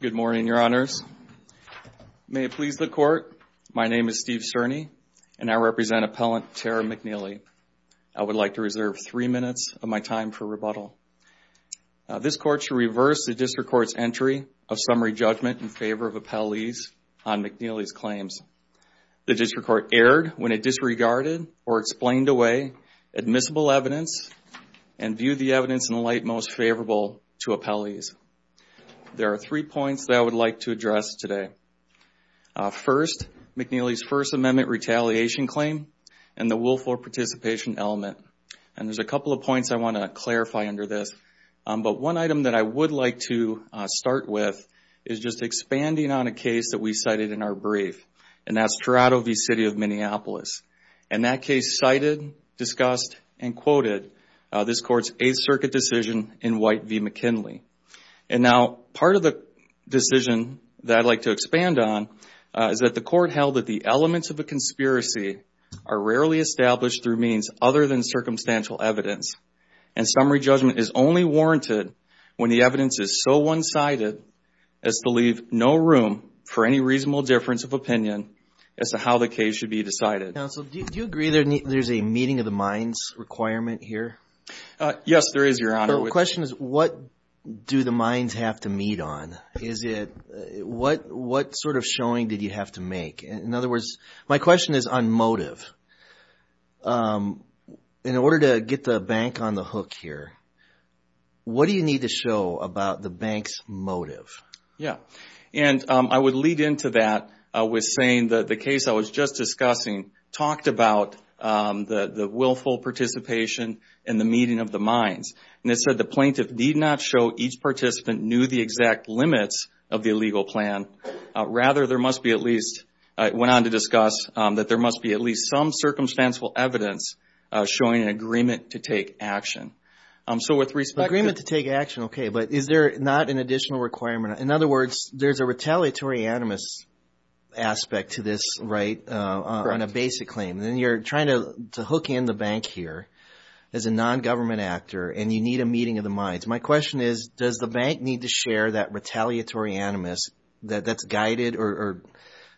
Good morning, Your Honors. May it please the Court, my name is Steve Cerny, and I represent Appellant Tara McNeally. I would like to reserve three minutes of my time for rebuttal. This Court should reverse the District Court's entry of summary judgment in favor of appellees on McNeally's claims. The District Court erred when it disregarded or explained away admissible evidence and viewed the evidence in light most favorable to appellees. There are three points that I would like to address today. First, McNeally's First Amendment retaliation claim and the willful participation element. And there's a couple of points I want to clarify under this. But one item that I would like to start with is just expanding on a case that we cited in our brief, and that's Toronto v. City of Minneapolis. And that case cited, discussed, and quoted this Court's Eighth Circuit decision in White v. McNeally. And now part of the decision that I'd like to expand on is that the Court held that the elements of a conspiracy are rarely established through means other than circumstantial evidence. And summary judgment is only warranted when the evidence is so one-sided as to leave no room for any reasonable difference of opinion as to how the case should be decided. Counsel, do you agree there's a meeting of the minds requirement here? Yes, there is, Your Honor. The question is what do the minds have to meet on? Is it, what sort of showing did you have to make? In other words, my question is on motive. In order to get the bank on the hook here, what do you need to show about the bank's motive? Yeah. And I would lead into that with saying that the case I was just discussing talked about the willful participation in the meeting of the minds. And it said the plaintiff need not show each participant knew the exact limits of the illegal plan. Rather, there must be at least, I went on to discuss, that there must be at least some circumstantial evidence showing an agreement to take action. So with respect to action, okay. But is there not an additional requirement? In other words, there's a retaliatory animus aspect to this, right, on a basic claim. Then you're trying to hook in the bank here as a non-government actor and you need a meeting of the minds. My question is, does the bank need to share that retaliatory animus that's guided or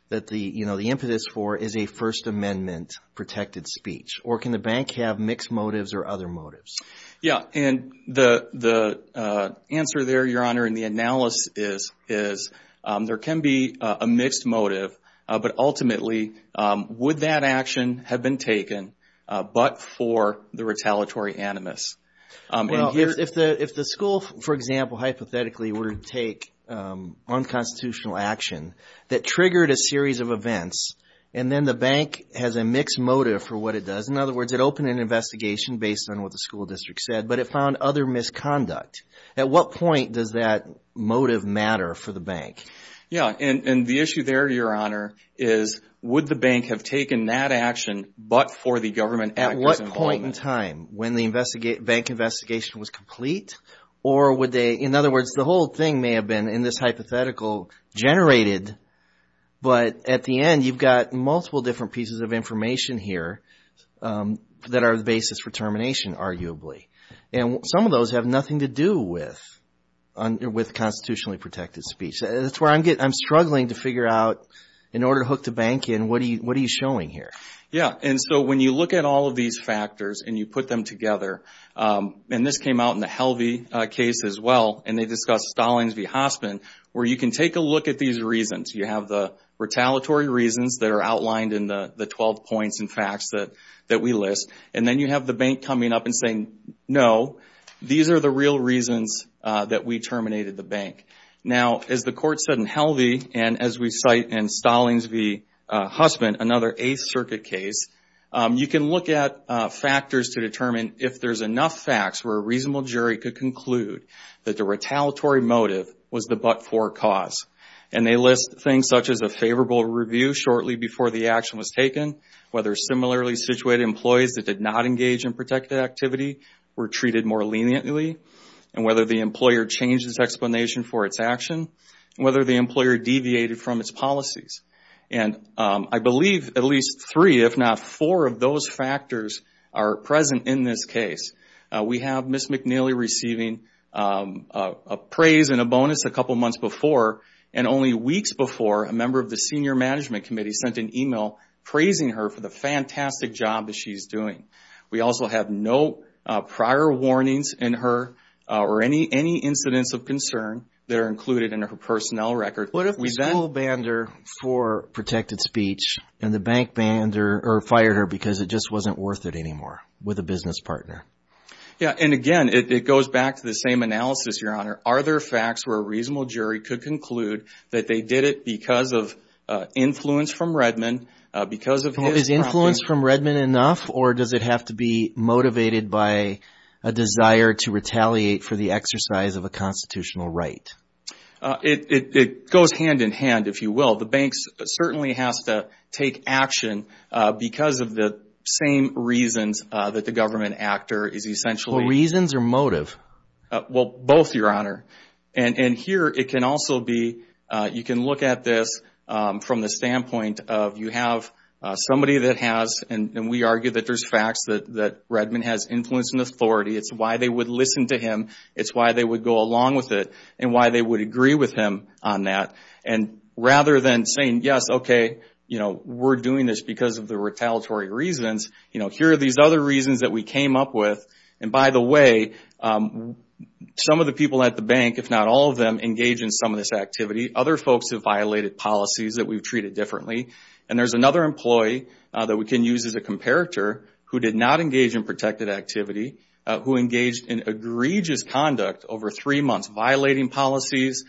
that the impetus for is a First Amendment protected speech? Or can the bank have mixed motives or other motives? Yeah. And the answer there, Your Honor, in the analysis is there can be a mixed motive. But ultimately, would that action have been taken but for the retaliatory animus? If the school, for example, hypothetically were to take unconstitutional action that triggered a series of events, and then the bank has a mixed motive for what it does. In other words, it opened an investigation based on what the school district said, but it found other misconduct. At what point does that motive matter for the bank? Yeah. And the issue there, Your Honor, is would the bank have taken that action but for the government actor's involvement? At what point in time? When the bank investigation was complete? Or would they, in other words, the whole thing may have been in this hypothetical generated, but at the end, you've got multiple different pieces of information here that are the basis for termination, arguably. And some of those have nothing to do with constitutionally protected speech. That's where I'm struggling to figure out, in order to hook the bank in, what are you showing here? Yeah. And so when you look at all of these factors and you put them together, and this came out in the Helvey case as well, and they discussed Stallings v. Hospin, where you can take a look at these reasons. You have the retaliatory reasons that are outlined in the 12 points and facts that we list, and then you have the bank coming up and saying, no, these are the real reasons that we terminated the bank. Now, as the court said in Helvey, and as we cite in Stallings v. Hospin, another Eighth Circuit case, you can look at factors to determine if there's enough facts where a reasonable cause. And they list things such as a favorable review shortly before the action was taken, whether similarly situated employees that did not engage in protected activity were treated more leniently, and whether the employer changed its explanation for its action, and whether the employer deviated from its policies. And I believe at least three, if not four, of those factors are present in this case. We have Ms. McNeely receiving a praise and only weeks before, a member of the Senior Management Committee sent an email praising her for the fantastic job that she's doing. We also have no prior warnings in her or any incidents of concern that are included in her personnel record. What if we full banned her for protected speech, and the bank fired her because it just wasn't worth it anymore with a business partner? Yeah, and again, it goes back to the same analysis, Your Honor. Are there facts where a reasonable jury could conclude that they did it because of influence from Redmond, because of his... Is influence from Redmond enough, or does it have to be motivated by a desire to retaliate for the exercise of a constitutional right? It goes hand-in-hand, if you will. The banks certainly has to take action because of the same reasons that the government actor is essentially... Well, reasons or motive? Well, both, Your Honor. Here, it can also be... You can look at this from the standpoint of you have somebody that has, and we argue that there's facts that Redmond has influence and authority. It's why they would listen to him. It's why they would go along with it and why they would agree with him on that. Rather than saying, yes, okay, we're doing this because of the retaliatory reasons, here are these other reasons that we came up with. By the way, some of the people at the bank, if not all of them, engage in some of this activity. Other folks have violated policies that we've treated differently. There's another employee that we can use as a comparator who did not engage in protected activity, who engaged in egregious conduct over three months, violating policies,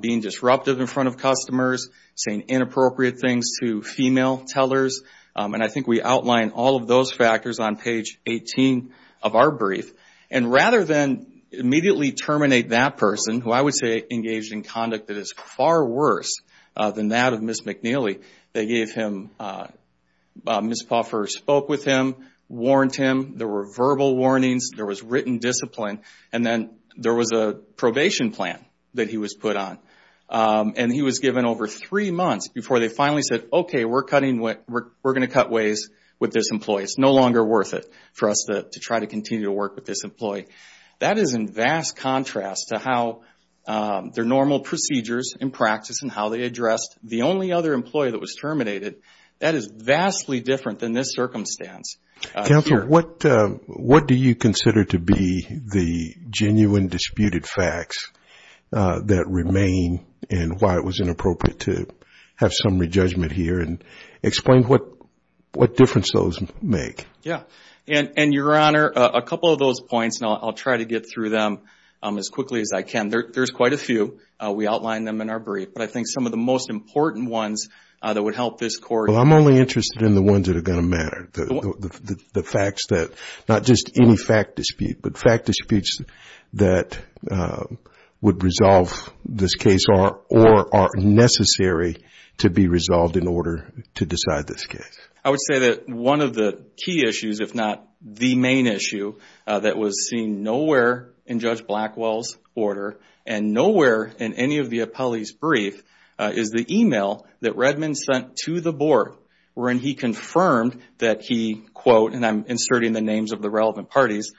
being disruptive in front of customers, saying inappropriate things to female tellers. I think we outline all of those factors on page 18 of our brief. Rather than immediately terminate that person, who I would say engaged in conduct that is far worse than that of Ms. McNeely, they gave him... Ms. Poffer spoke with him, warned him. There were verbal warnings. There was written discipline. Then there was a probation plan that he was put on. He was given over three months before they finally said, okay, we're going to cut ways with this employee. It's no longer worth it for us to try to continue to work with this employee. That is in vast contrast to how their normal procedures in practice and how they addressed the only other employee that was terminated. That is vastly different than this circumstance. Counsel, what do you consider to be the genuine disputed facts that remain and why it was have some re-judgment here? Explain what difference those make. Yeah. Your Honor, a couple of those points, and I'll try to get through them as quickly as I can. There's quite a few. We outline them in our brief. I think some of the most important ones that would help this court... I'm only interested in the ones that are going to matter. The facts that... Not just any fact dispute, but fact disputes that would resolve this case or are necessary to resolve in order to decide this case. I would say that one of the key issues, if not the main issue, that was seen nowhere in Judge Blackwell's order and nowhere in any of the appellee's brief is the email that Redmond sent to the board when he confirmed that he, quote, and I'm inserting the names of the relevant parties,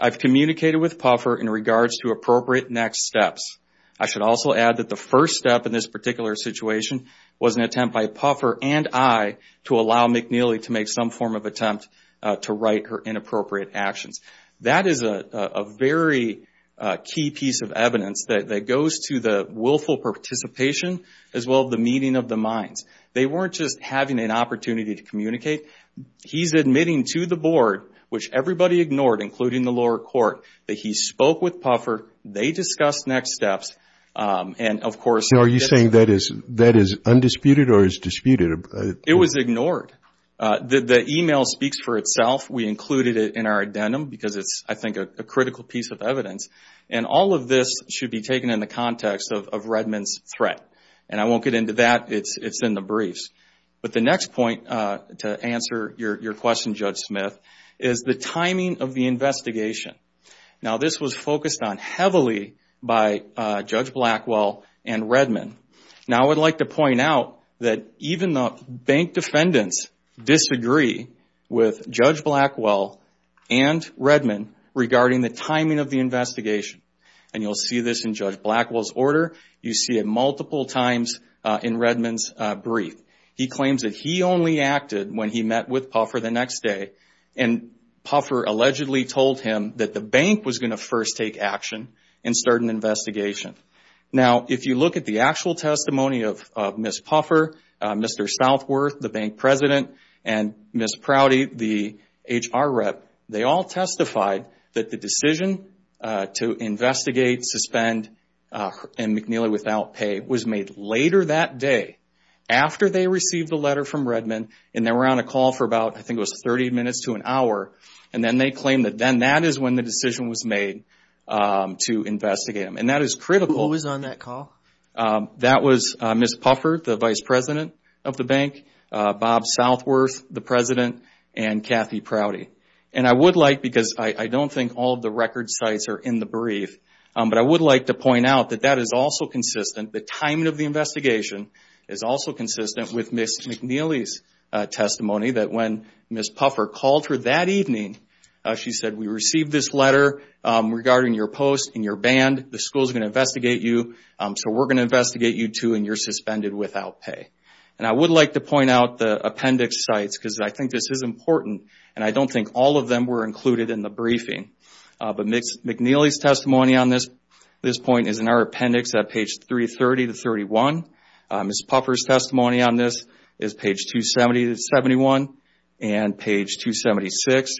I've communicated with Puffer in regards to appropriate next steps. I should also add that the first step in this particular situation was an attempt by Puffer and I to allow McNeely to make some form of attempt to right her inappropriate actions. That is a very key piece of evidence that goes to the willful participation as well as the meeting of the minds. They weren't just having an opportunity to communicate. He's admitting to the board, which everybody ignored, including the lower court, that he spoke with Puffer, they discussed next steps, and of course... Are you saying that is undisputed or is disputed? It was ignored. The email speaks for itself. We included it in our addendum because it's, I think, a critical piece of evidence. All of this should be taken in the context of Redmond's threat. I won't get into that. It's in the briefs. The next point to answer your question, Judge Smith, is the timing of the investigation. Now, this was focused on heavily by Judge Blackwell and Redmond. Now, I would like to point out that even the bank defendants disagree with Judge Blackwell and Redmond regarding the timing of the investigation. You'll see this in Judge Blackwell's order. You see it multiple times in Redmond's brief. He claims that he only acted when he met with Puffer the next day, and Puffer allegedly told him that the bank was going to first take action and start an investigation. Now, if you look at the actual testimony of Ms. Puffer, Mr. Southworth, the bank president, and Ms. Prouty, the HR rep, they all testified that the decision to investigate, suspend, and McNeely without pay was made later that day, after they received a letter from Redmond, and they were on a call for about, I think it was 30 minutes to an hour, and then they claimed that then that is when the decision was made to investigate him. And that is critical. Who was on that call? That was Ms. Puffer, the vice president of the bank, Bob Southworth, the president, and Kathy Prouty. And I would like, because I don't think all of the record sites are in the brief, but I would like to point out that that is also consistent. The timing of the investigation is also consistent with Ms. McNeely's testimony, that when Ms. Puffer called her that evening, she said, we received this letter regarding your post and your band. The school is going to investigate you, so we're going to investigate you too, and you're suspended without pay. And I would like to point out the appendix sites, because I think this is important, and I don't think all of them were included in the briefing. But Ms. McNeely's testimony on this point is in our appendix at page 330 to 31. Ms. Puffer's testimony on this is page 270 to 71, and page 276.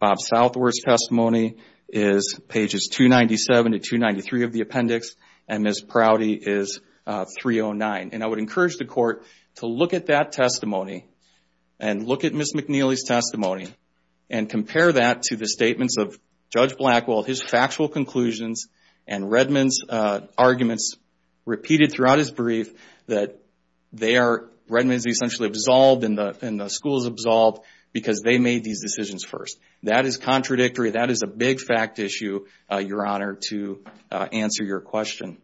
Bob Southworth's testimony is pages 297 to 293 of the appendix, and Ms. Prouty is 309. And I would encourage the court to look at that testimony, and look at Ms. McNeely's testimony, and compare that to the statements of Judge Blackwell, his factual conclusions, and Redmond's arguments, repeated throughout his brief, that Redmond is essentially absolved, and the school is absolved, because they made these decisions first. That is contradictory. That is a big fact issue, Your Honor, to answer your question.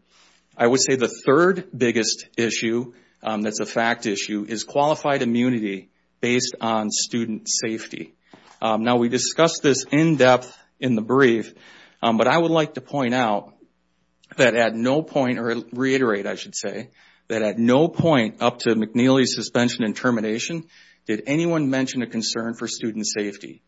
I would say the third biggest issue, that's a fact issue, is qualified immunity based on student safety. Now we discussed this in depth in the brief, but I would like to point out that at no point, or reiterate I should say, that at no point up to McNeely's suspension and termination did anyone mention a concern for student safety.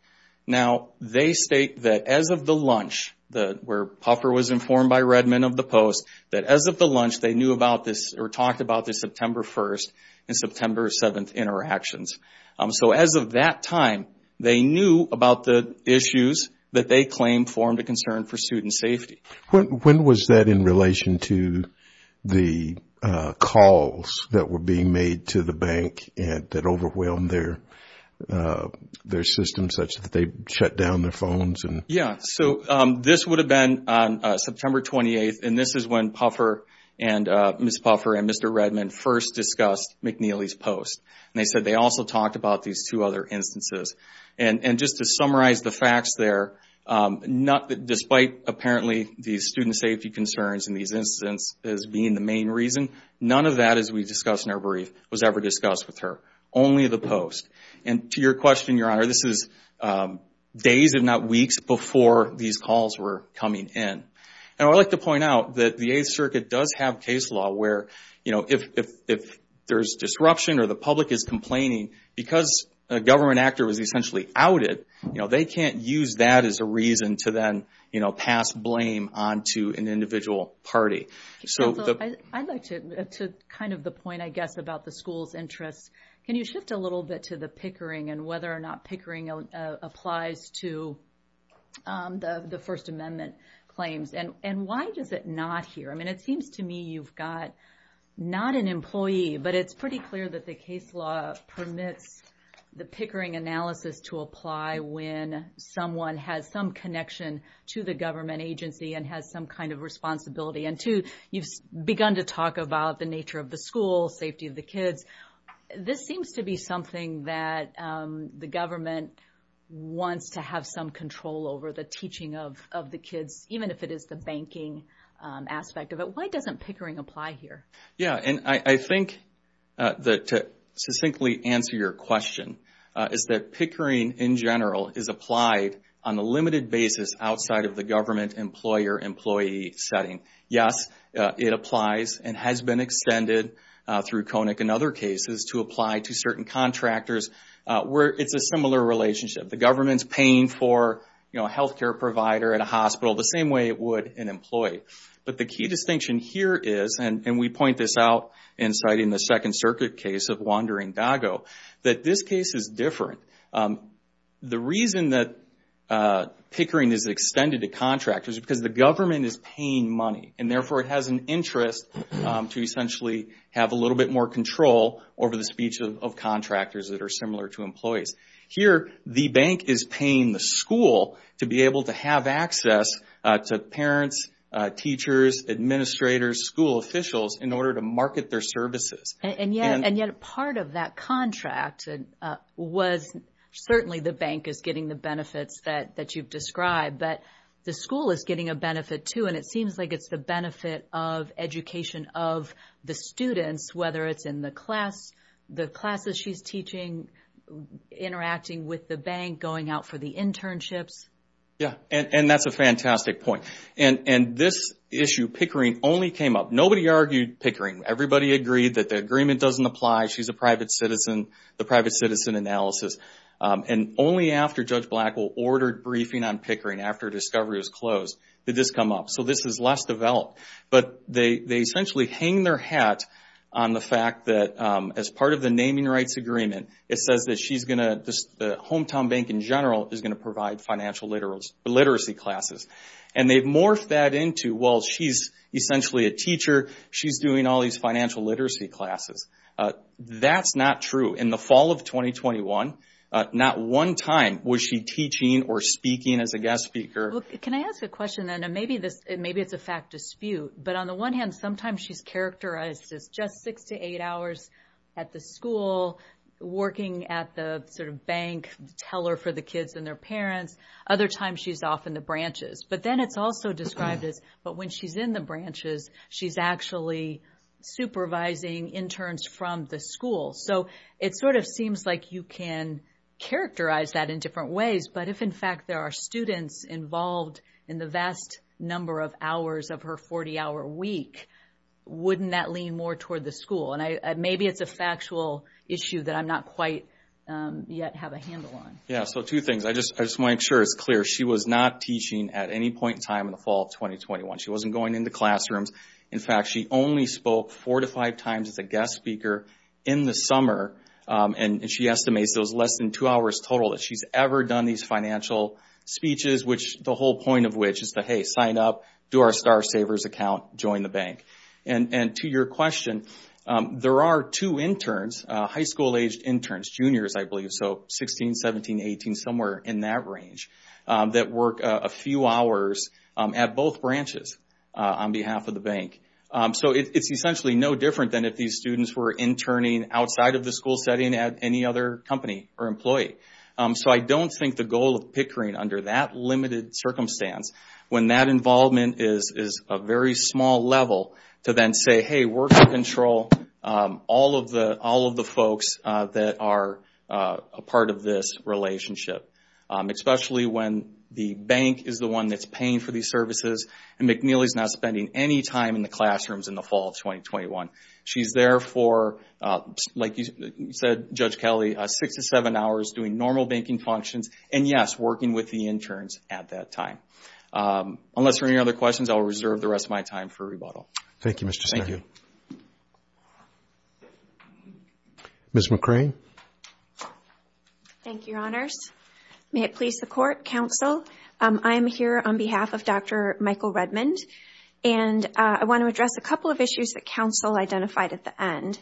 Now they state that as of the lunch, where Puffer was informed by Redmond of the post, that as of the lunch they knew about this, or talked about this September 1st and September 7th interactions. So as of that time, they knew about the issues that they claimed formed a concern for student safety. When was that in relation to the calls that were being made to the bank that overwhelmed their system, such that they shut down their phones? Yeah, so this would have been on September 28th, and this is when Ms. Puffer and Mr. Redmond first discussed McNeely's post. They said they also talked about these two other instances. Just to summarize the facts there, despite apparently these student safety concerns and these incidents as being the main reason, none of that, as we discussed in our brief, was ever discussed with her, only the post. To your question, Your Honor, this is days, if not weeks, before these calls were coming in. I'd like to point out that the Eighth Circuit does have case law where if there's disruption or the public is complaining, because a government actor was essentially outed, they can't use that as a reason to then pass blame on to an individual party. Counsel, I'd like to kind of point, I guess, about the school's interests. Can you shift a little bit to the pickering and whether or not pickering applies to the First Amendment claims? And why does it not here? I mean, it seems to me you've got not an employee, but it's pretty clear that the case law permits the pickering analysis to apply when someone has some connection to the government agency and has some kind of responsibility. And two, you've begun to talk about the nature of the school, safety of the kids. This seems to be something that the government wants to have some control over, the teaching of the kids, even if it is the banking aspect of it. Why doesn't pickering apply here? Yeah, and I think that to succinctly answer your question, is that pickering in general is applied on a limited basis outside of the government employer-employee setting. Yes, it applies and has been extended through CONIC and other cases to apply to certain contractors where it's a similar relationship. The government's paying for a health care provider at a hospital the same way it would an employee. But the key distinction here is, and we point this out in citing the Second Circuit case of Wandering Doggo, that this case is different. The reason that pickering is extended to contractors is because the government is paying money and therefore it has an interest to essentially have a little bit more control over the speech of contractors that are similar to employees. Here, the bank is paying the school to be able to have access to parents, teachers, administrators, school officials in order to market their services. And yet part of that contract was certainly the bank is getting the benefits that you've described, but the school is getting a benefit too. And it seems like it's the benefit of education of the students, whether it's in the class, the classes she's teaching, interacting with the bank, going out for the internships. Yeah, and that's a fantastic point. And this issue, pickering, only came up. Nobody argued pickering. Everybody agreed that the agreement doesn't apply. She's a private citizen, the pickering, after discovery was closed, did this come up. So this is less developed. But they essentially hang their hat on the fact that as part of the naming rights agreement, it says that the hometown bank in general is going to provide financial literacy classes. And they've morphed that into, well, she's essentially a teacher, she's doing all these financial literacy classes. That's not true. In the fall of 2021, not one time was she teaching or speaking as a guest speaker. Can I ask a question then? And maybe it's a fact dispute. But on the one hand, sometimes she's characterized as just six to eight hours at the school, working at the sort of bank, teller for the kids and their parents. Other times she's off in the branches. But then it's also described as, but when she's in the branches, she's actually supervising interns from the school. So it sort of seems like you can characterize that in different ways. But if in fact there are students involved in the vast number of hours of her 40 hour week, wouldn't that lean more toward the school? And maybe it's a factual issue that I'm not quite yet have a handle on. Yeah. So two things. I just want to make sure it's clear. She was not teaching at any point in time in the fall of 2021. She wasn't going into classrooms. In fact, she only spoke four or five times as a guest speaker in the summer. And she estimates those less than two hours total that she's ever done these financial speeches, which the whole point of which is to, hey, sign up, do our Star Savers account, join the bank. And to your question, there are two interns, high school aged interns, juniors I believe, so 16, 17, 18, somewhere in that range, that work a few hours at both branches on behalf of the bank. So it's essentially no different than if these students were interning outside of the school setting at any other company or employee. So I don't think the goal of Pickering under that limited circumstance, when that involvement is a very small level, to then say, hey, we're going to control all of the folks that are a part of this relationship. Especially when the bank is the one that's paying for these services and McNeely's not spending any time in the classrooms in the fall of 2021. She's there for, like you said, Judge Kelly, six to seven hours doing normal banking functions. And yes, working with the interns at that time. Unless there are any other questions, I'll reserve the rest of my time for rebuttal. Thank you, Mr. Stegman. Thank you. Ms. McRae. Thank you, Your Honors. May it please the Court, Counsel, I'm here on behalf of Dr. Michael Redmond. And I want to address a couple of issues that Counsel identified at the end.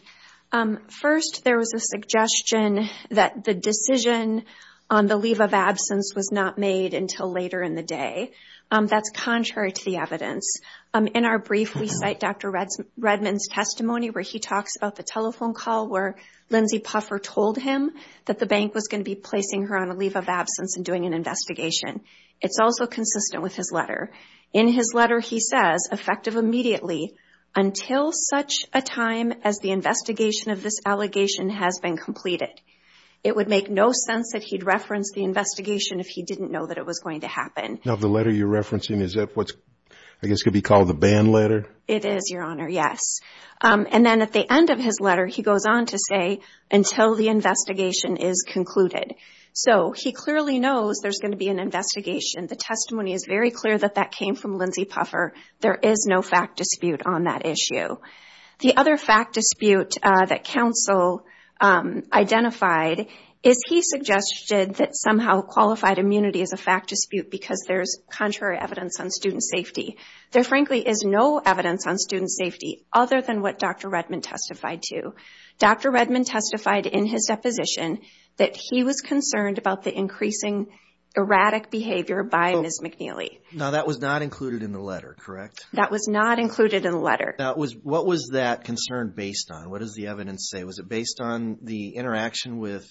First, there was a suggestion that the decision on the leave of absence was not made until later in the day. That's contrary to the evidence. In our brief, we cite Dr. Redmond's testimony where he talks about the telephone call where Lindsey Puffer told him that the bank was going to be placing her on a leave of absence and doing an investigation. It's also consistent with his letter. In his letter, he says, effective immediately, until such a time as the investigation of this allegation has been completed. It would make no sense that he'd reference the investigation if he didn't know that it was going to happen. Now, the letter you're referencing, is that what's, I guess, could be called the ban letter? It is, Your Honor, yes. And then at the end of his letter, he goes on to say, until the investigation is concluded. So he clearly knows there's going to be an investigation. The testimony is very clear that that came from Lindsey Puffer. There is no fact dispute on that issue. The other fact dispute that Counsel identified is he suggested that somehow qualified immunity is a fact dispute because there's contrary evidence on student safety. There frankly is no evidence on student safety other than what Dr. Redmond testified to. Dr. Redmond testified in his deposition that he was concerned about the increasing erratic behavior by Ms. McNeely. Now, that was not included in the letter, correct? That was not included in the letter. What was that concern based on? What does the evidence say? Was it based on the interaction with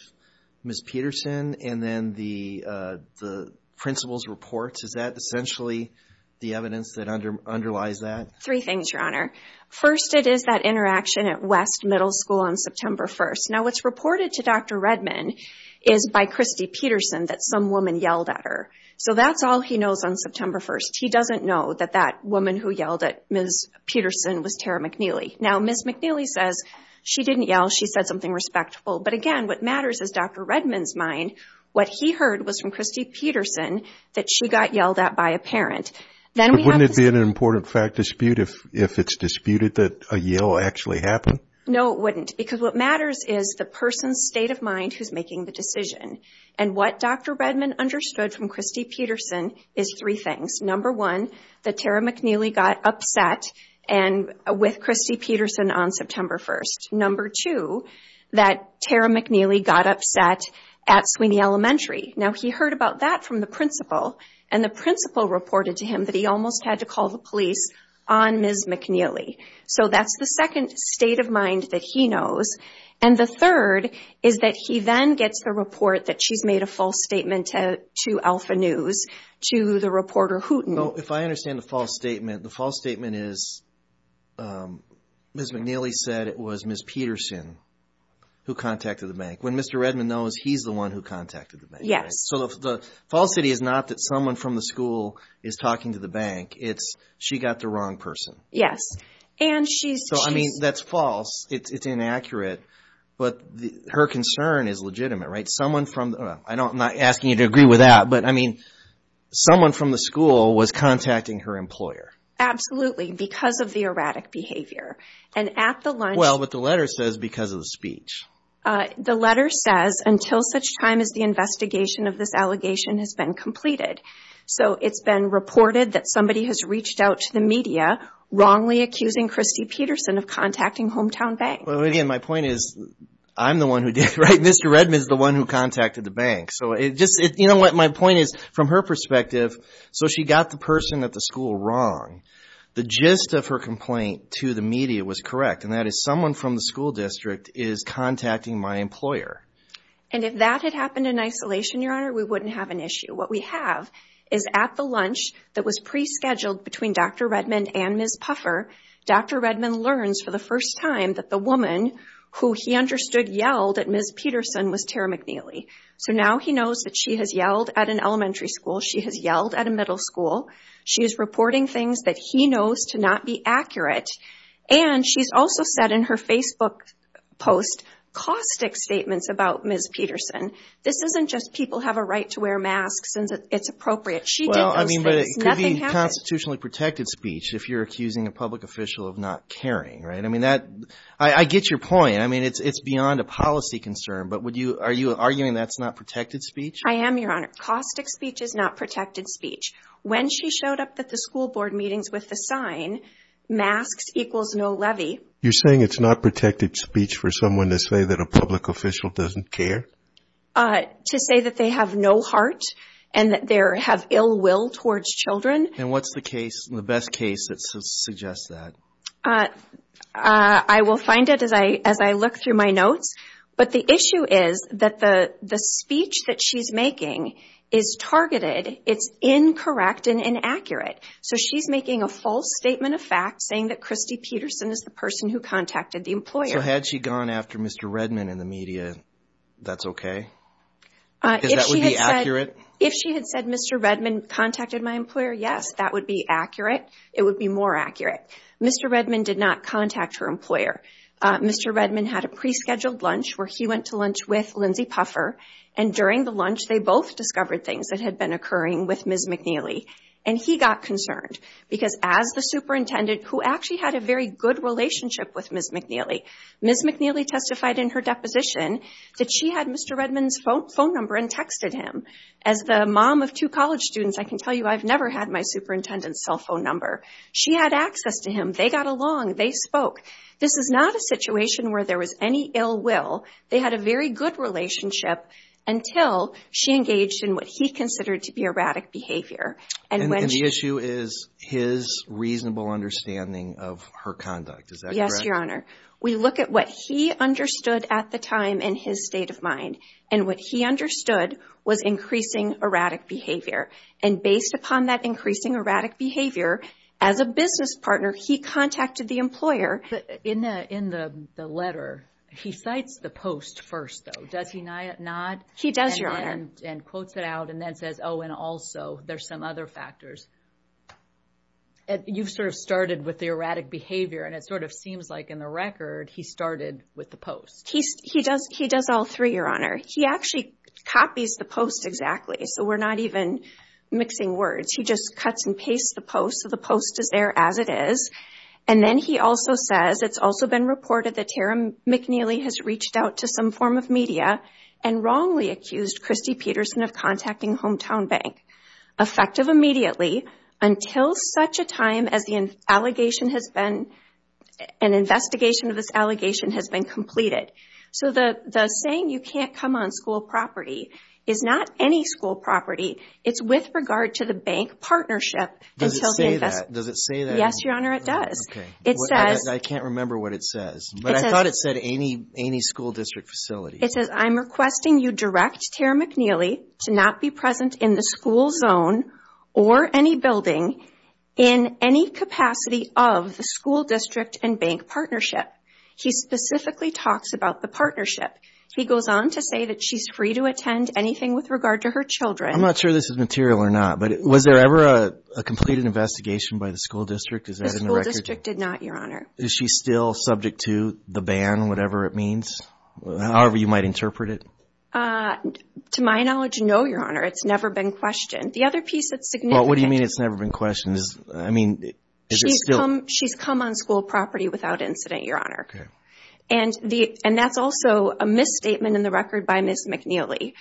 Ms. Peterson and then the principal's reports? Is that essentially the evidence that underlies that? Three things, Your Honor. First, it is that interaction at West Middle School on September 1st. Now, what's reported to Dr. Redmond is by Christy Peterson that some woman yelled at her. So, that's all he knows on September 1st. He doesn't know that that woman who yelled at Ms. Peterson was Tara McNeely. Now, Ms. McNeely says she didn't yell. She said something respectful. But again, what matters is Dr. Redmond's mind. What he heard was from Christy Peterson that she got yelled at by a parent. Then we have... But wouldn't it be an important fact dispute if it's disputed that a yell actually happened? No, it wouldn't because what matters is the person's state of mind who's making the decision. And what Dr. Redmond understood from Christy Peterson is three things. Number one, that Tara McNeely got upset with Christy Peterson on September 1st. Number two, that Tara McNeely got upset at Sweeney Elementary. Now, he heard about that from the principal and the principal reported to him that he almost had to call the police on Ms. McNeely. So, that's the second state of mind that he knows. And the third is that he then gets the report that she's made a false statement to Alpha News to the reporter, Hooten. So, if I understand the false statement, the false statement is Ms. McNeely said it was Ms. Peterson who contacted the bank. When Mr. Redmond knows, he's the one who contacted the bank, right? So, the falsity is not that someone from the school is talking to the bank. It's she got the wrong person. Yes. And she's... So, I mean, that's false. It's inaccurate. But her concern is legitimate, right? Someone from... I'm not asking you to agree with that, but I mean, someone from the school was contacting her employer. Absolutely, because of the erratic behavior. And at the lunch... Well, but the letter says because of the speech. The letter says, until such time as the investigation of this allegation has been completed. So, it's been reported that somebody has reached out to the media, wrongly accusing Christy Peterson of contacting Hometown Bank. Well, again, my point is I'm the one who did it, right? Mr. Redmond is the one who contacted the bank. So, it just... You know what? My point is, from her perspective, so she got the person at the school wrong. The gist of her complaint to the media was correct. And that is someone from the school district is contacting my employer. And if that had happened in isolation, Your Honor, we wouldn't have an issue. What we have is at the lunch that was pre-scheduled between Dr. Redmond and Ms. Puffer, Dr. Redmond learns for the first time that the woman who he understood yelled at Ms. Peterson was Tara McNeely. So, now he knows that she has yelled at an elementary school. She has yelled at a middle school. She is reporting things that he knows to not be accurate. And she's also said in her Facebook post caustic statements about Ms. Peterson. This isn't just people have a right to wear masks and that it's appropriate. She did those things. Nothing happened. Well, I mean, but it could be constitutionally protected speech if you're accusing a public official of not caring, right? I mean, that, I get your point. I mean, it's beyond a policy concern. But would you, are you arguing that's not protected speech? I am, Your Honor. Caustic speech is not protected speech. When she showed up at the school board meetings with the sign masks equals no levy. You're saying it's not protected speech for someone to say that a public official doesn't care? To say that they have no heart and that they have ill will towards children. And what's the case, the best case that suggests that? I will find it as I look through my notes. But the issue is that the speech that she's making is targeted. It's incorrect and inaccurate. So she's making a false statement of fact saying that Christy Peterson is the person who contacted the employer. So had she gone after Mr. Redman in the media, that's okay? Because that would be accurate? If she had said Mr. Redman contacted my employer, yes, that would be accurate. It would be more accurate. Mr. Redman did not contact her employer. Mr. Redman had a pre-scheduled lunch where he went to lunch with Lindsay Puffer. And during the lunch, they both discovered things that had been occurring with Ms. McNeely. And he got concerned. Because as the superintendent, who actually had a very good relationship with Ms. McNeely, Ms. McNeely testified in her deposition that she had Mr. Redman's phone number and texted him. As the mom of two college students, I can tell you I've never had my superintendent's cell phone number. She had access to him. They got along. They spoke. This is not a situation where there was any ill will. They had a very good relationship until she engaged in what he considered to be erratic behavior. And the issue is his reasonable understanding of her conduct. Is that correct? Yes, Your Honor. We look at what he understood at the time in his state of mind. And what he understood was increasing erratic behavior. And based upon that increasing erratic behavior, as a business partner, he contacted the employer. In the letter, he cites the post first, though. Does he not? He does, Your Honor. And quotes it out and then says, oh, and also there's some other factors. You've sort of in the record, he started with the post. He does all three, Your Honor. He actually copies the post exactly. So we're not even mixing words. He just cuts and pastes the post. So the post is there as it is. And then he also says, it's also been reported that Tara McNeely has reached out to some form of media and wrongly accused Kristi Peterson of contacting Hometown Bank. Effective immediately, until such a time as an investigation of this allegation has been completed. So the saying you can't come on school property is not any school property. It's with regard to the bank partnership until the investigation. Does it say that? Yes, Your Honor, it does. Okay. I can't remember what it says. But I thought it said any school district facility. It says, I'm requesting you direct Tara McNeely to not be present in the school zone or any building in any capacity of the school district and bank partnership. He specifically talks about the partnership. He goes on to say that she's free to attend anything with regard to her children. I'm not sure this is material or not. But was there ever a completed investigation by the school district? The school district did not, Your Honor. Is she still subject to the ban, whatever it means, however you might interpret it? To my knowledge, no, Your Honor. It's never been questioned. The other piece that's significant What do you mean it's never been questioned? I mean, is it still She's come on school property without incident, Your Honor. And that's also a misstatement in the record by Ms. McNeely.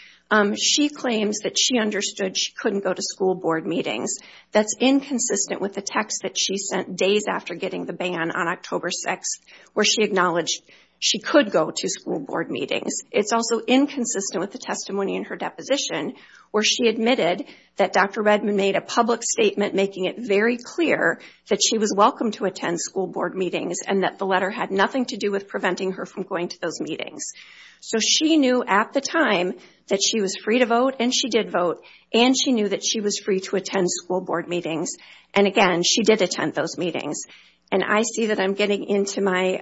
She claims that she understood she couldn't go to school board meetings. That's inconsistent with the text that she sent days after getting the ban on October 6th where she acknowledged she could go to school board meetings. It's also inconsistent with the testimony in her deposition where she admitted that Dr. Redman made a public statement making it very clear that she was welcome to attend school board meetings and that the letter had nothing to do with preventing her from going to those meetings. So she knew at the time that she was free to vote and she did vote. And she knew that she was free to attend school board meetings. And again, she did attend those meetings. And I see that I'm getting into my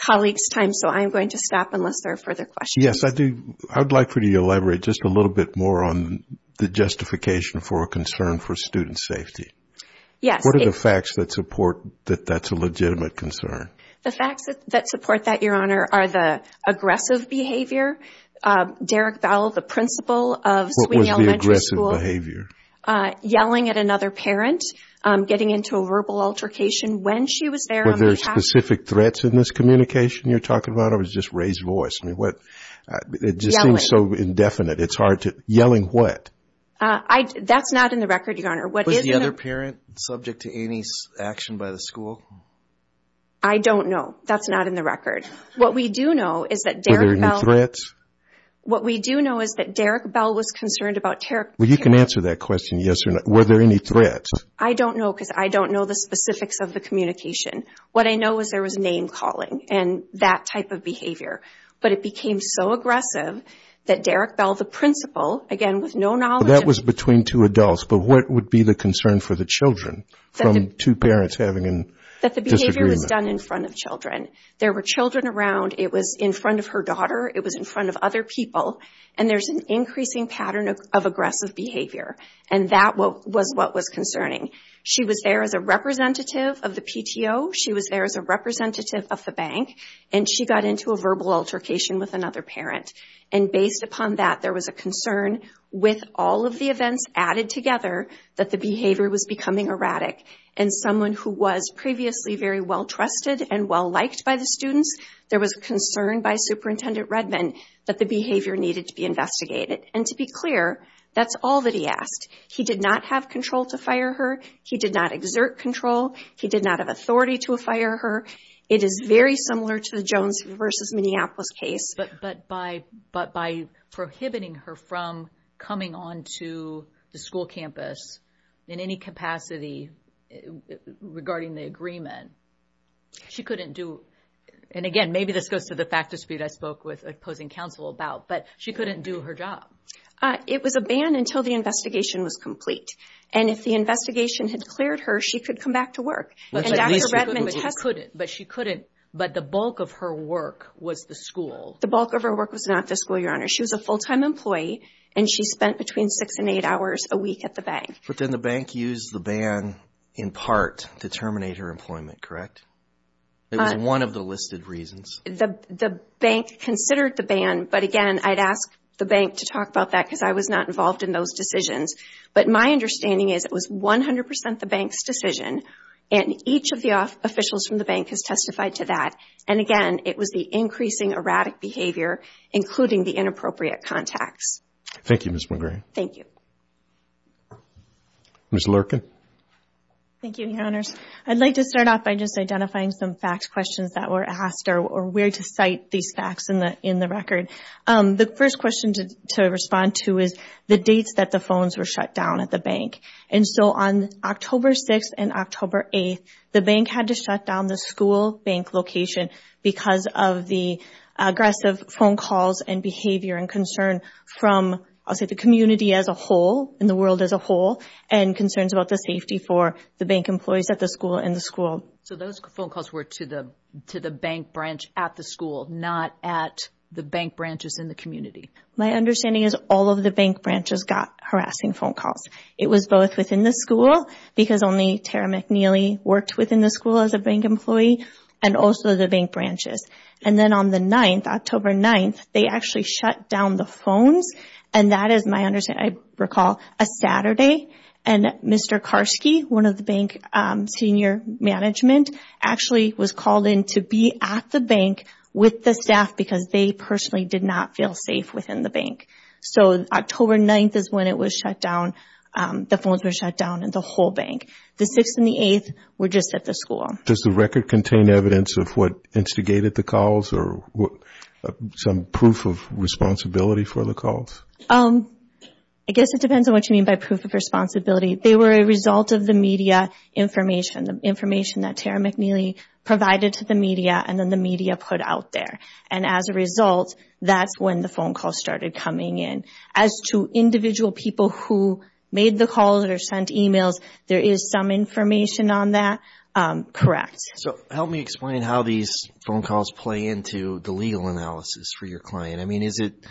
colleague's time, so I'm going to stop unless there are further questions. Yes, I'd like for you to elaborate just a little bit more on the justification for a concern for student safety. What are the facts that support that that's a legitimate concern? The facts that support that, Your Honor, are the aggressive behavior. Derek Bell, the principal of Sweeney Elementary School What was the aggressive behavior? yelling at another parent, getting into a verbal altercation when she was there on the campus. Were there specific threats in this communication you're talking about or was it just raised voice? It just seems so indefinite. It's hard to... yelling what? That's not in the record, Your Honor. Was the other parent subject to any action by the school? I don't know. That's not in the record. What we do know is that Derek Bell... Were there any threats? What we do know is that Derek Bell was concerned about... Well, you can answer that question, yes or no. Were there any threats? I don't know because I don't know the specifics of the communication. What I know is there was name-calling and that type of behavior, but it became so aggressive that Derek Bell, the principal, again with no knowledge... That was between two adults, but what would be the concern for the children from two parents having a disagreement? That the behavior was done in front of children. There were children around. It was in front of her daughter. It was in front of other people, and there's an increasing pattern of aggressive behavior, and that was what was concerning. She was there as a representative of the PTO. She was there as a representative of the bank, and she got into a verbal altercation with another parent, and based upon that, there was a concern with all of the events added together that the behavior was becoming erratic, and someone who was previously very well-trusted and well-liked by the students, there was concern by Superintendent Redman that the behavior needed to be investigated, and to be clear, that's all that he asked. He did not have control to fire her. He did not exert control. He did not have authority to fire her. It is very similar to the Jones v. Minneapolis case. But by prohibiting her from coming onto the school campus in any capacity regarding the agreement, she couldn't do... And again, maybe this goes to the fact dispute I spoke with opposing counsel about, but she couldn't do her job. It was a ban until the investigation was complete, and if the investigation had cleared her, she could come back to work. But she couldn't, but the bulk of her work was the school. The bulk of her work was not the school, Your Honor. She was a full-time employee, and she spent between six and eight hours a week at the bank. But then the bank used the ban in part to terminate her employment, correct? It was one of the listed reasons. The bank considered the ban, but again, I'd ask the bank to talk about that because I was not involved in those decisions. But my understanding is it was 100 percent the bank's decision, and each of the officials from the bank has testified to that. And again, it was the increasing erratic behavior, including the inappropriate contacts. Thank you, Ms. McGray. Thank you. Ms. Lurken. Thank you, Your Honors. I'd like to start off by just identifying some fact questions that were asked or where to cite these facts in the record. The first question to respond to is the dates that the phones were shut down at the bank. And so on October 6th and October 8th, the bank had to shut down the school bank location because of the aggressive phone calls and behavior and concern from, I'll say, the community as a whole, and the world as a whole, and concerns about the safety for the bank employees at the school and the school. So those phone calls were to the bank branch at the school, not at the bank branches in the community. My understanding is all of the bank branches got harassing phone calls. It was both within the school, because only Tara McNeely worked within the school as a bank employee, and also the bank branches. And then on the 9th, October 9th, they actually shut down the phones. And that is my understanding. I recall a Saturday, and Mr. Karski, one of the bank senior management, actually was called in to be at the bank with the staff because they personally did not feel safe within the bank. So October 9th is when it was shut down, the phones were shut down, and the whole bank. The 6th and the 8th were just at the school. Does the record contain evidence of what instigated the calls or some proof of responsibility for the calls? I guess it depends on what you mean by proof of responsibility. They were a result of the media information, the information that Tara McNeely provided to the media, and then the media put out there. And as a result, that's when the phone calls started coming in. As to individual people who made the calls or sent emails, there is some information on that. Correct. So help me explain how these phone calls play into the legal analysis for your client. I mean, does it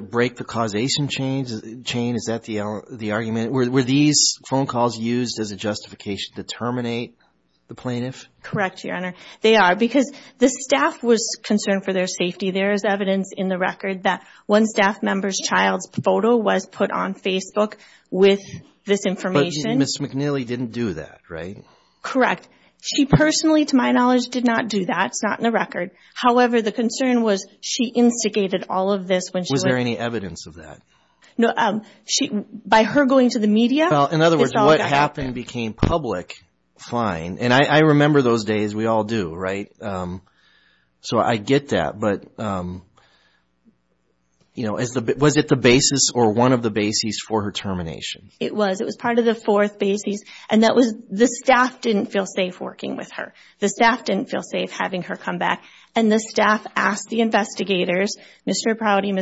break the causation chain? Is that the argument? Were these phone calls used as a justification to terminate the plaintiff? Correct, Your Honor. They are, because the staff was concerned for their safety. There is evidence in the record that one staff member's child's photo was put on Facebook with this information. Ms. McNeely didn't do that, right? Correct. She personally, to my knowledge, did not do that. It's not in the record. However, the concern was she instigated all of this when she was... Was there any evidence of that? No. By her going to the media, it's all... Well, in other words, what happened became public, fine. And I remember those days. We all do, right? So I get that, but, you know, was it the basis or one of the bases for her termination? It was. It was part of the fourth basis, and that was the staff didn't feel safe working with her. The staff didn't feel safe having her come back, and the staff asked the investigators, Mr. Prouty,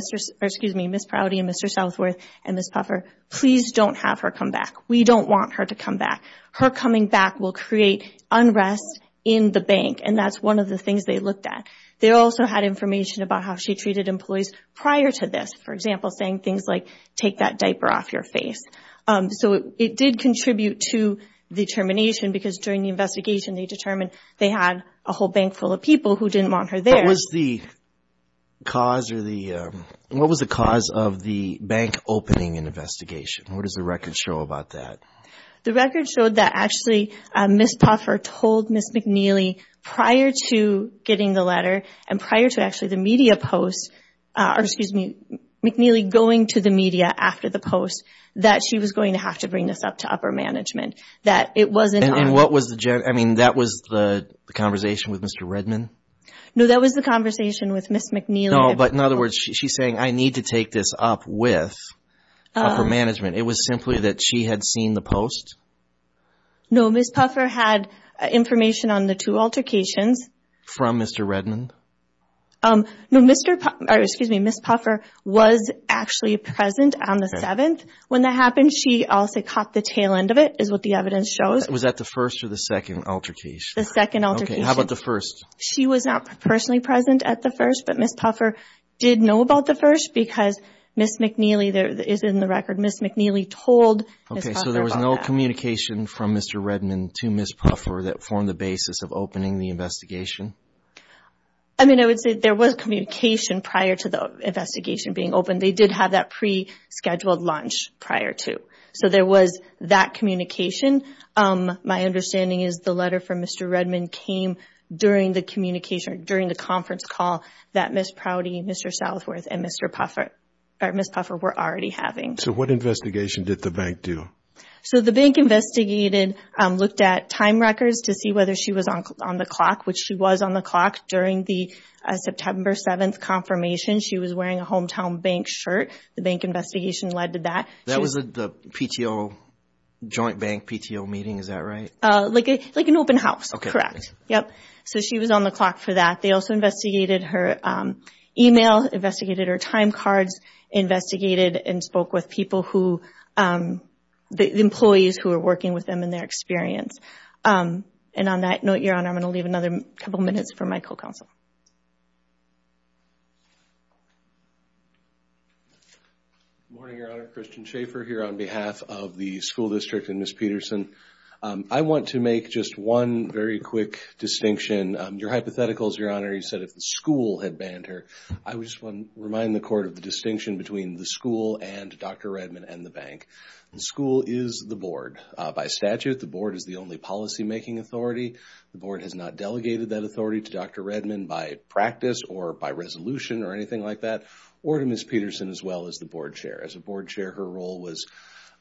excuse me, Ms. Prouty and Mr. Southworth and Ms. Puffer, please don't have her come back. We don't want her to come back. Her coming back will create unrest in the bank, and that's one of the things they looked at. They also had information about how she treated employees prior to this. For example, saying things like, take that diaper off your face. So it did contribute to the termination because during the investigation, they determined they had a whole bank full of people who didn't want her there. What was the cause of the bank opening and investigation? What does the record show about that? The record showed that actually Ms. Puffer told Ms. McNeely prior to getting the letter and prior to actually the media post, or excuse me, McNeely going to the media after the post, that she was going to have to bring this up to upper management. That it wasn't... And what was the... I mean, that was the conversation with Mr. Redman? No, that was the conversation with Ms. McNeely. No, but in other words, she's saying, I need to take this up with upper management. It was simply that she had seen the post? No, Ms. Puffer had information on the two altercations. From Mr. Redman? No, Mr., or excuse me, Ms. Puffer was actually present on the 7th. When that happened, she also caught the tail end of it, is what the evidence shows. Was that the first or the second altercation? The second altercation. Okay, how about the first? She was not personally present at the first, but Ms. Puffer did know about the first because Ms. McNeely, there is in the record, Ms. McNeely told Ms. Puffer about that. Okay, so there was no communication from Mr. Redman to Ms. Puffer that formed the basis of opening the investigation? I mean, I would say there was communication prior to the investigation being opened. They did have that pre-scheduled lunch prior to, so there was that communication. My understanding is the letter from Mr. Redman came during the communication or during the conference call that Ms. Prouty, Mr. Southworth, and Ms. Puffer were already having. What investigation did the bank do? The bank investigated, looked at time records to see whether she was on the clock, which she was on the clock during the September 7th confirmation. She was wearing a hometown bank shirt. The bank investigation led to that. That was the PTO, joint bank PTO meeting, is that right? Like an open house, correct. So she was on the clock for that. They also investigated her email, investigated her time cards, investigated and spoke with people who, the employees who were working with them and their experience. And on that note, Your Honor, I'm going to leave another couple of minutes for my co-counsel. Good morning, Your Honor. Christian Schaefer here on behalf of the school district and Ms. Peterson. I want to make just one very quick distinction. Your hypotheticals, Your Honor, you said if the school had banned her. I just want to remind the court of the distinction between the school and Dr. Redman and the bank. The school is the board. By statute, the board is the only policymaking authority. The board has not delegated that authority to Dr. Redman by practice or by resolution or anything like that, or to Ms. Peterson as well as the board chair. As a board chair, her role was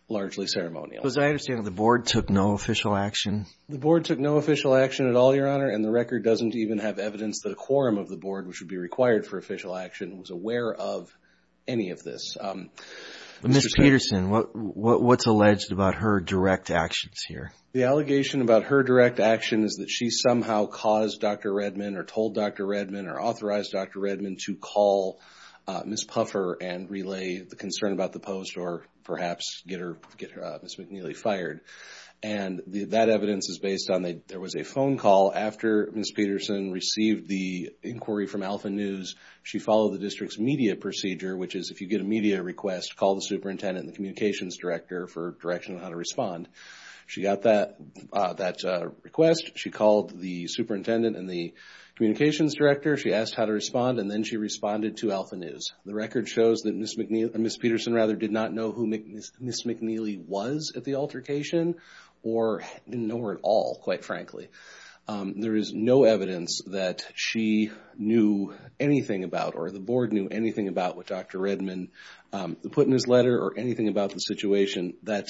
largely ceremonial. As I understand it, the board took no official action. The board took no official action at all, Your Honor, and the record doesn't even have evidence that a quorum of the board, which would be required for official action, was aware of any of this. Ms. Peterson, what's alleged about her direct actions here? The allegation about her direct action is that she somehow caused Dr. Redman or told Dr. Redman or authorized Dr. Redman to call Ms. Puffer and relay the concern about the post or perhaps get Ms. McNeely fired. That evidence is based on there was a phone call after Ms. Peterson received the inquiry from Alpha News. She followed the district's media procedure, which is if you get a media request, call the superintendent and the communications director for direction on how to respond. She got that request, she called the superintendent and the communications director, she asked how to respond, and then she responded to Alpha News. The record shows that Ms. Peterson did not know who Ms. McNeely was at the altercation or didn't know her at all, quite frankly. There is no evidence that she knew anything about or the board knew anything about what Dr. Redman put in his letter or anything about the situation. That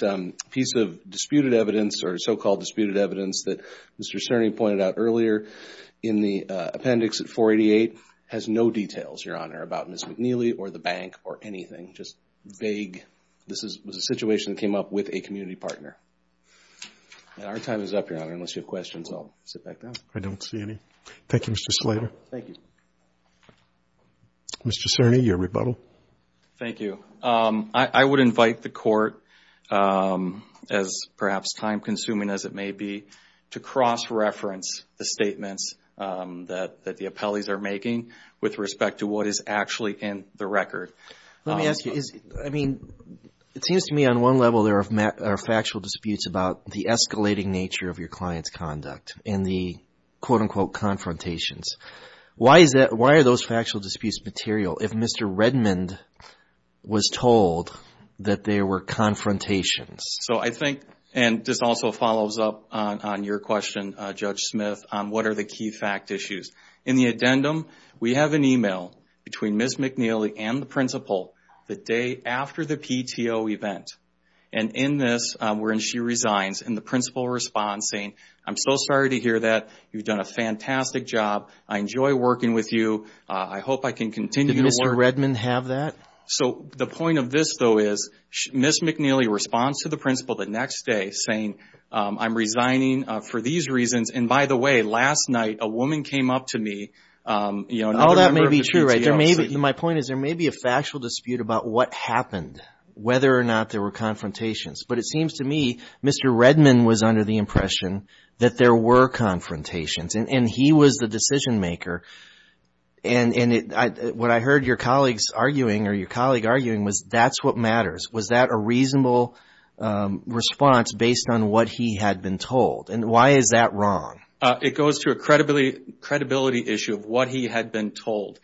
piece of disputed evidence or so-called disputed evidence that Mr. Cerny pointed out earlier in the appendix at 488 has no details, Your Honor, about Ms. McNeely or the bank or anything, just vague. This was a situation that came up with a community partner. Our time is up, Your Honor. Unless you have questions, I'll sit back down. I don't see any. Thank you, Mr. Slater. Thank you. Mr. Cerny, your rebuttal. Thank you. I would invite the court, as perhaps time-consuming as it may be, to cross-reference the statements that the appellees are making with respect to what is actually in the record. Let me ask you. I mean, it seems to me on one level there are factual disputes about the escalating nature of your client's conduct and the, quote-unquote, confrontations. Why are those factual disputes material if Mr. Redman was told that there were confrontations? So I think, and this also follows up on your question, Judge Smith, on what are the key fact issues. In the addendum, we have an email between Ms. McNeely and the principal the day after the PTO event. And in this, when she resigns, and the principal responds saying, I'm so sorry to hear that. You've done a fantastic job. I enjoy working with you. I hope I can continue to work. Did Mr. Redman have that? So the point of this, though, is Ms. McNeely responds to the principal the next day saying, I'm resigning for these reasons. And, by the way, last night a woman came up to me. All that may be true. My point is there may be a factual dispute about what happened, whether or not there were confrontations. But it seems to me Mr. Redman was under the impression that there were confrontations. And he was the decision maker. And what I heard your colleagues arguing or your colleague arguing was that's what matters. Was that a reasonable response based on what he had been told? And why is that wrong? It goes to a credibility issue of what he had been told.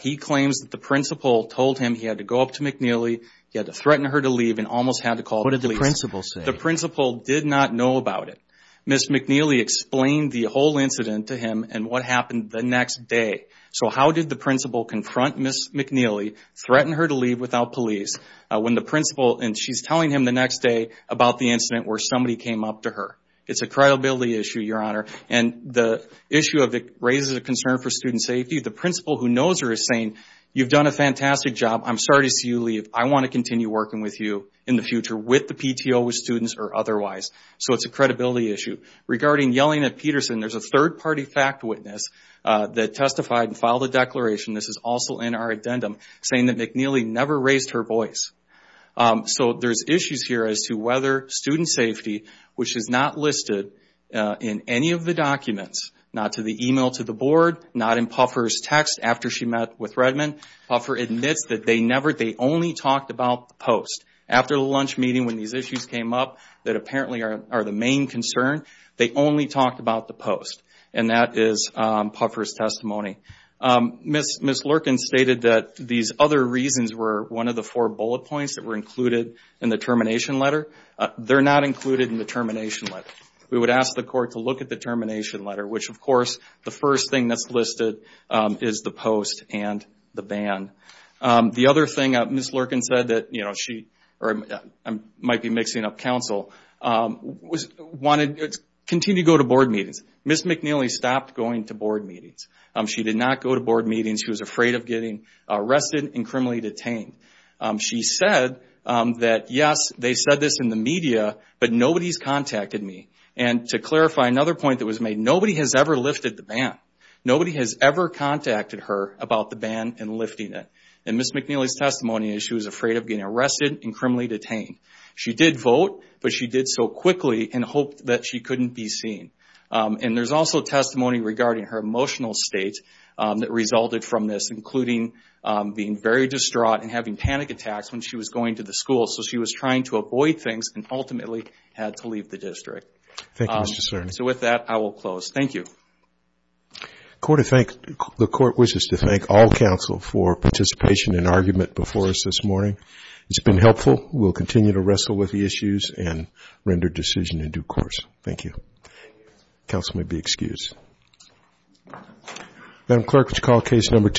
He claims that the principal told him he had to go up to McNeely, he had to threaten her to leave, and almost had to call the police. What did the principal say? The principal did not know about it. Ms. McNeely explained the whole incident to him and what happened the next day. So how did the principal confront Ms. McNeely, threaten her to leave without police, when the principal, and she's telling him the next day about the incident where somebody came up to her? It's a credibility issue, your honor. And the issue of it raises a concern for student safety. The principal, who knows her, is saying, you've done a fantastic job. I'm sorry to see you leave. I want to continue working with you in the future with the PTO, with students, or otherwise. So it's a credibility issue. Regarding yelling at Peterson, there's a third party fact witness that testified and filed a declaration, this is also in our addendum, saying that McNeely never raised her voice. So there's issues here as to whether student safety, which is not listed in any of the documents, not to the email to the board, not in Puffer's text after she met with Redmond. Puffer admits that they only talked about the post. After the lunch meeting, when these issues came up, that apparently are the main concern, they only talked about the post. And that is Puffer's testimony. Ms. Lurken stated that these other reasons were one of the four bullet points that were included in the termination letter. They're not included in the termination letter. We would ask the court to look at the termination letter, which, of course, the first thing that's listed is the post and the ban. The other thing, Ms. Lurken said that she, or I might be mixing up counsel, wanted to continue to go to board meetings. Ms. McNeely stopped going to board meetings. She did not go to board meetings. She was afraid of getting arrested and criminally detained. She said that, yes, they said this in the media, but nobody's contacted me. And to clarify, another point that was made, nobody has ever lifted the ban. Nobody has ever contacted her about the ban and lifting it. In Ms. McNeely's testimony, she was afraid of getting arrested and criminally detained. She did vote, but she did so quickly in hope that she couldn't be seen. And there's also testimony regarding her emotional state that resulted from this, including being very distraught and having panic attacks when she was going to the school. So she was trying to avoid things and ultimately had to leave the district. Thank you, Mr. Cerny. So with that, I will close. Thank you. The court wishes to thank all counsel for participation and argument before us this morning. It's been helpful. We'll continue to wrestle with the issues and render decision in due course. Thank you. Counsel may be excused. Madam Clerk, would you call Case Number 2?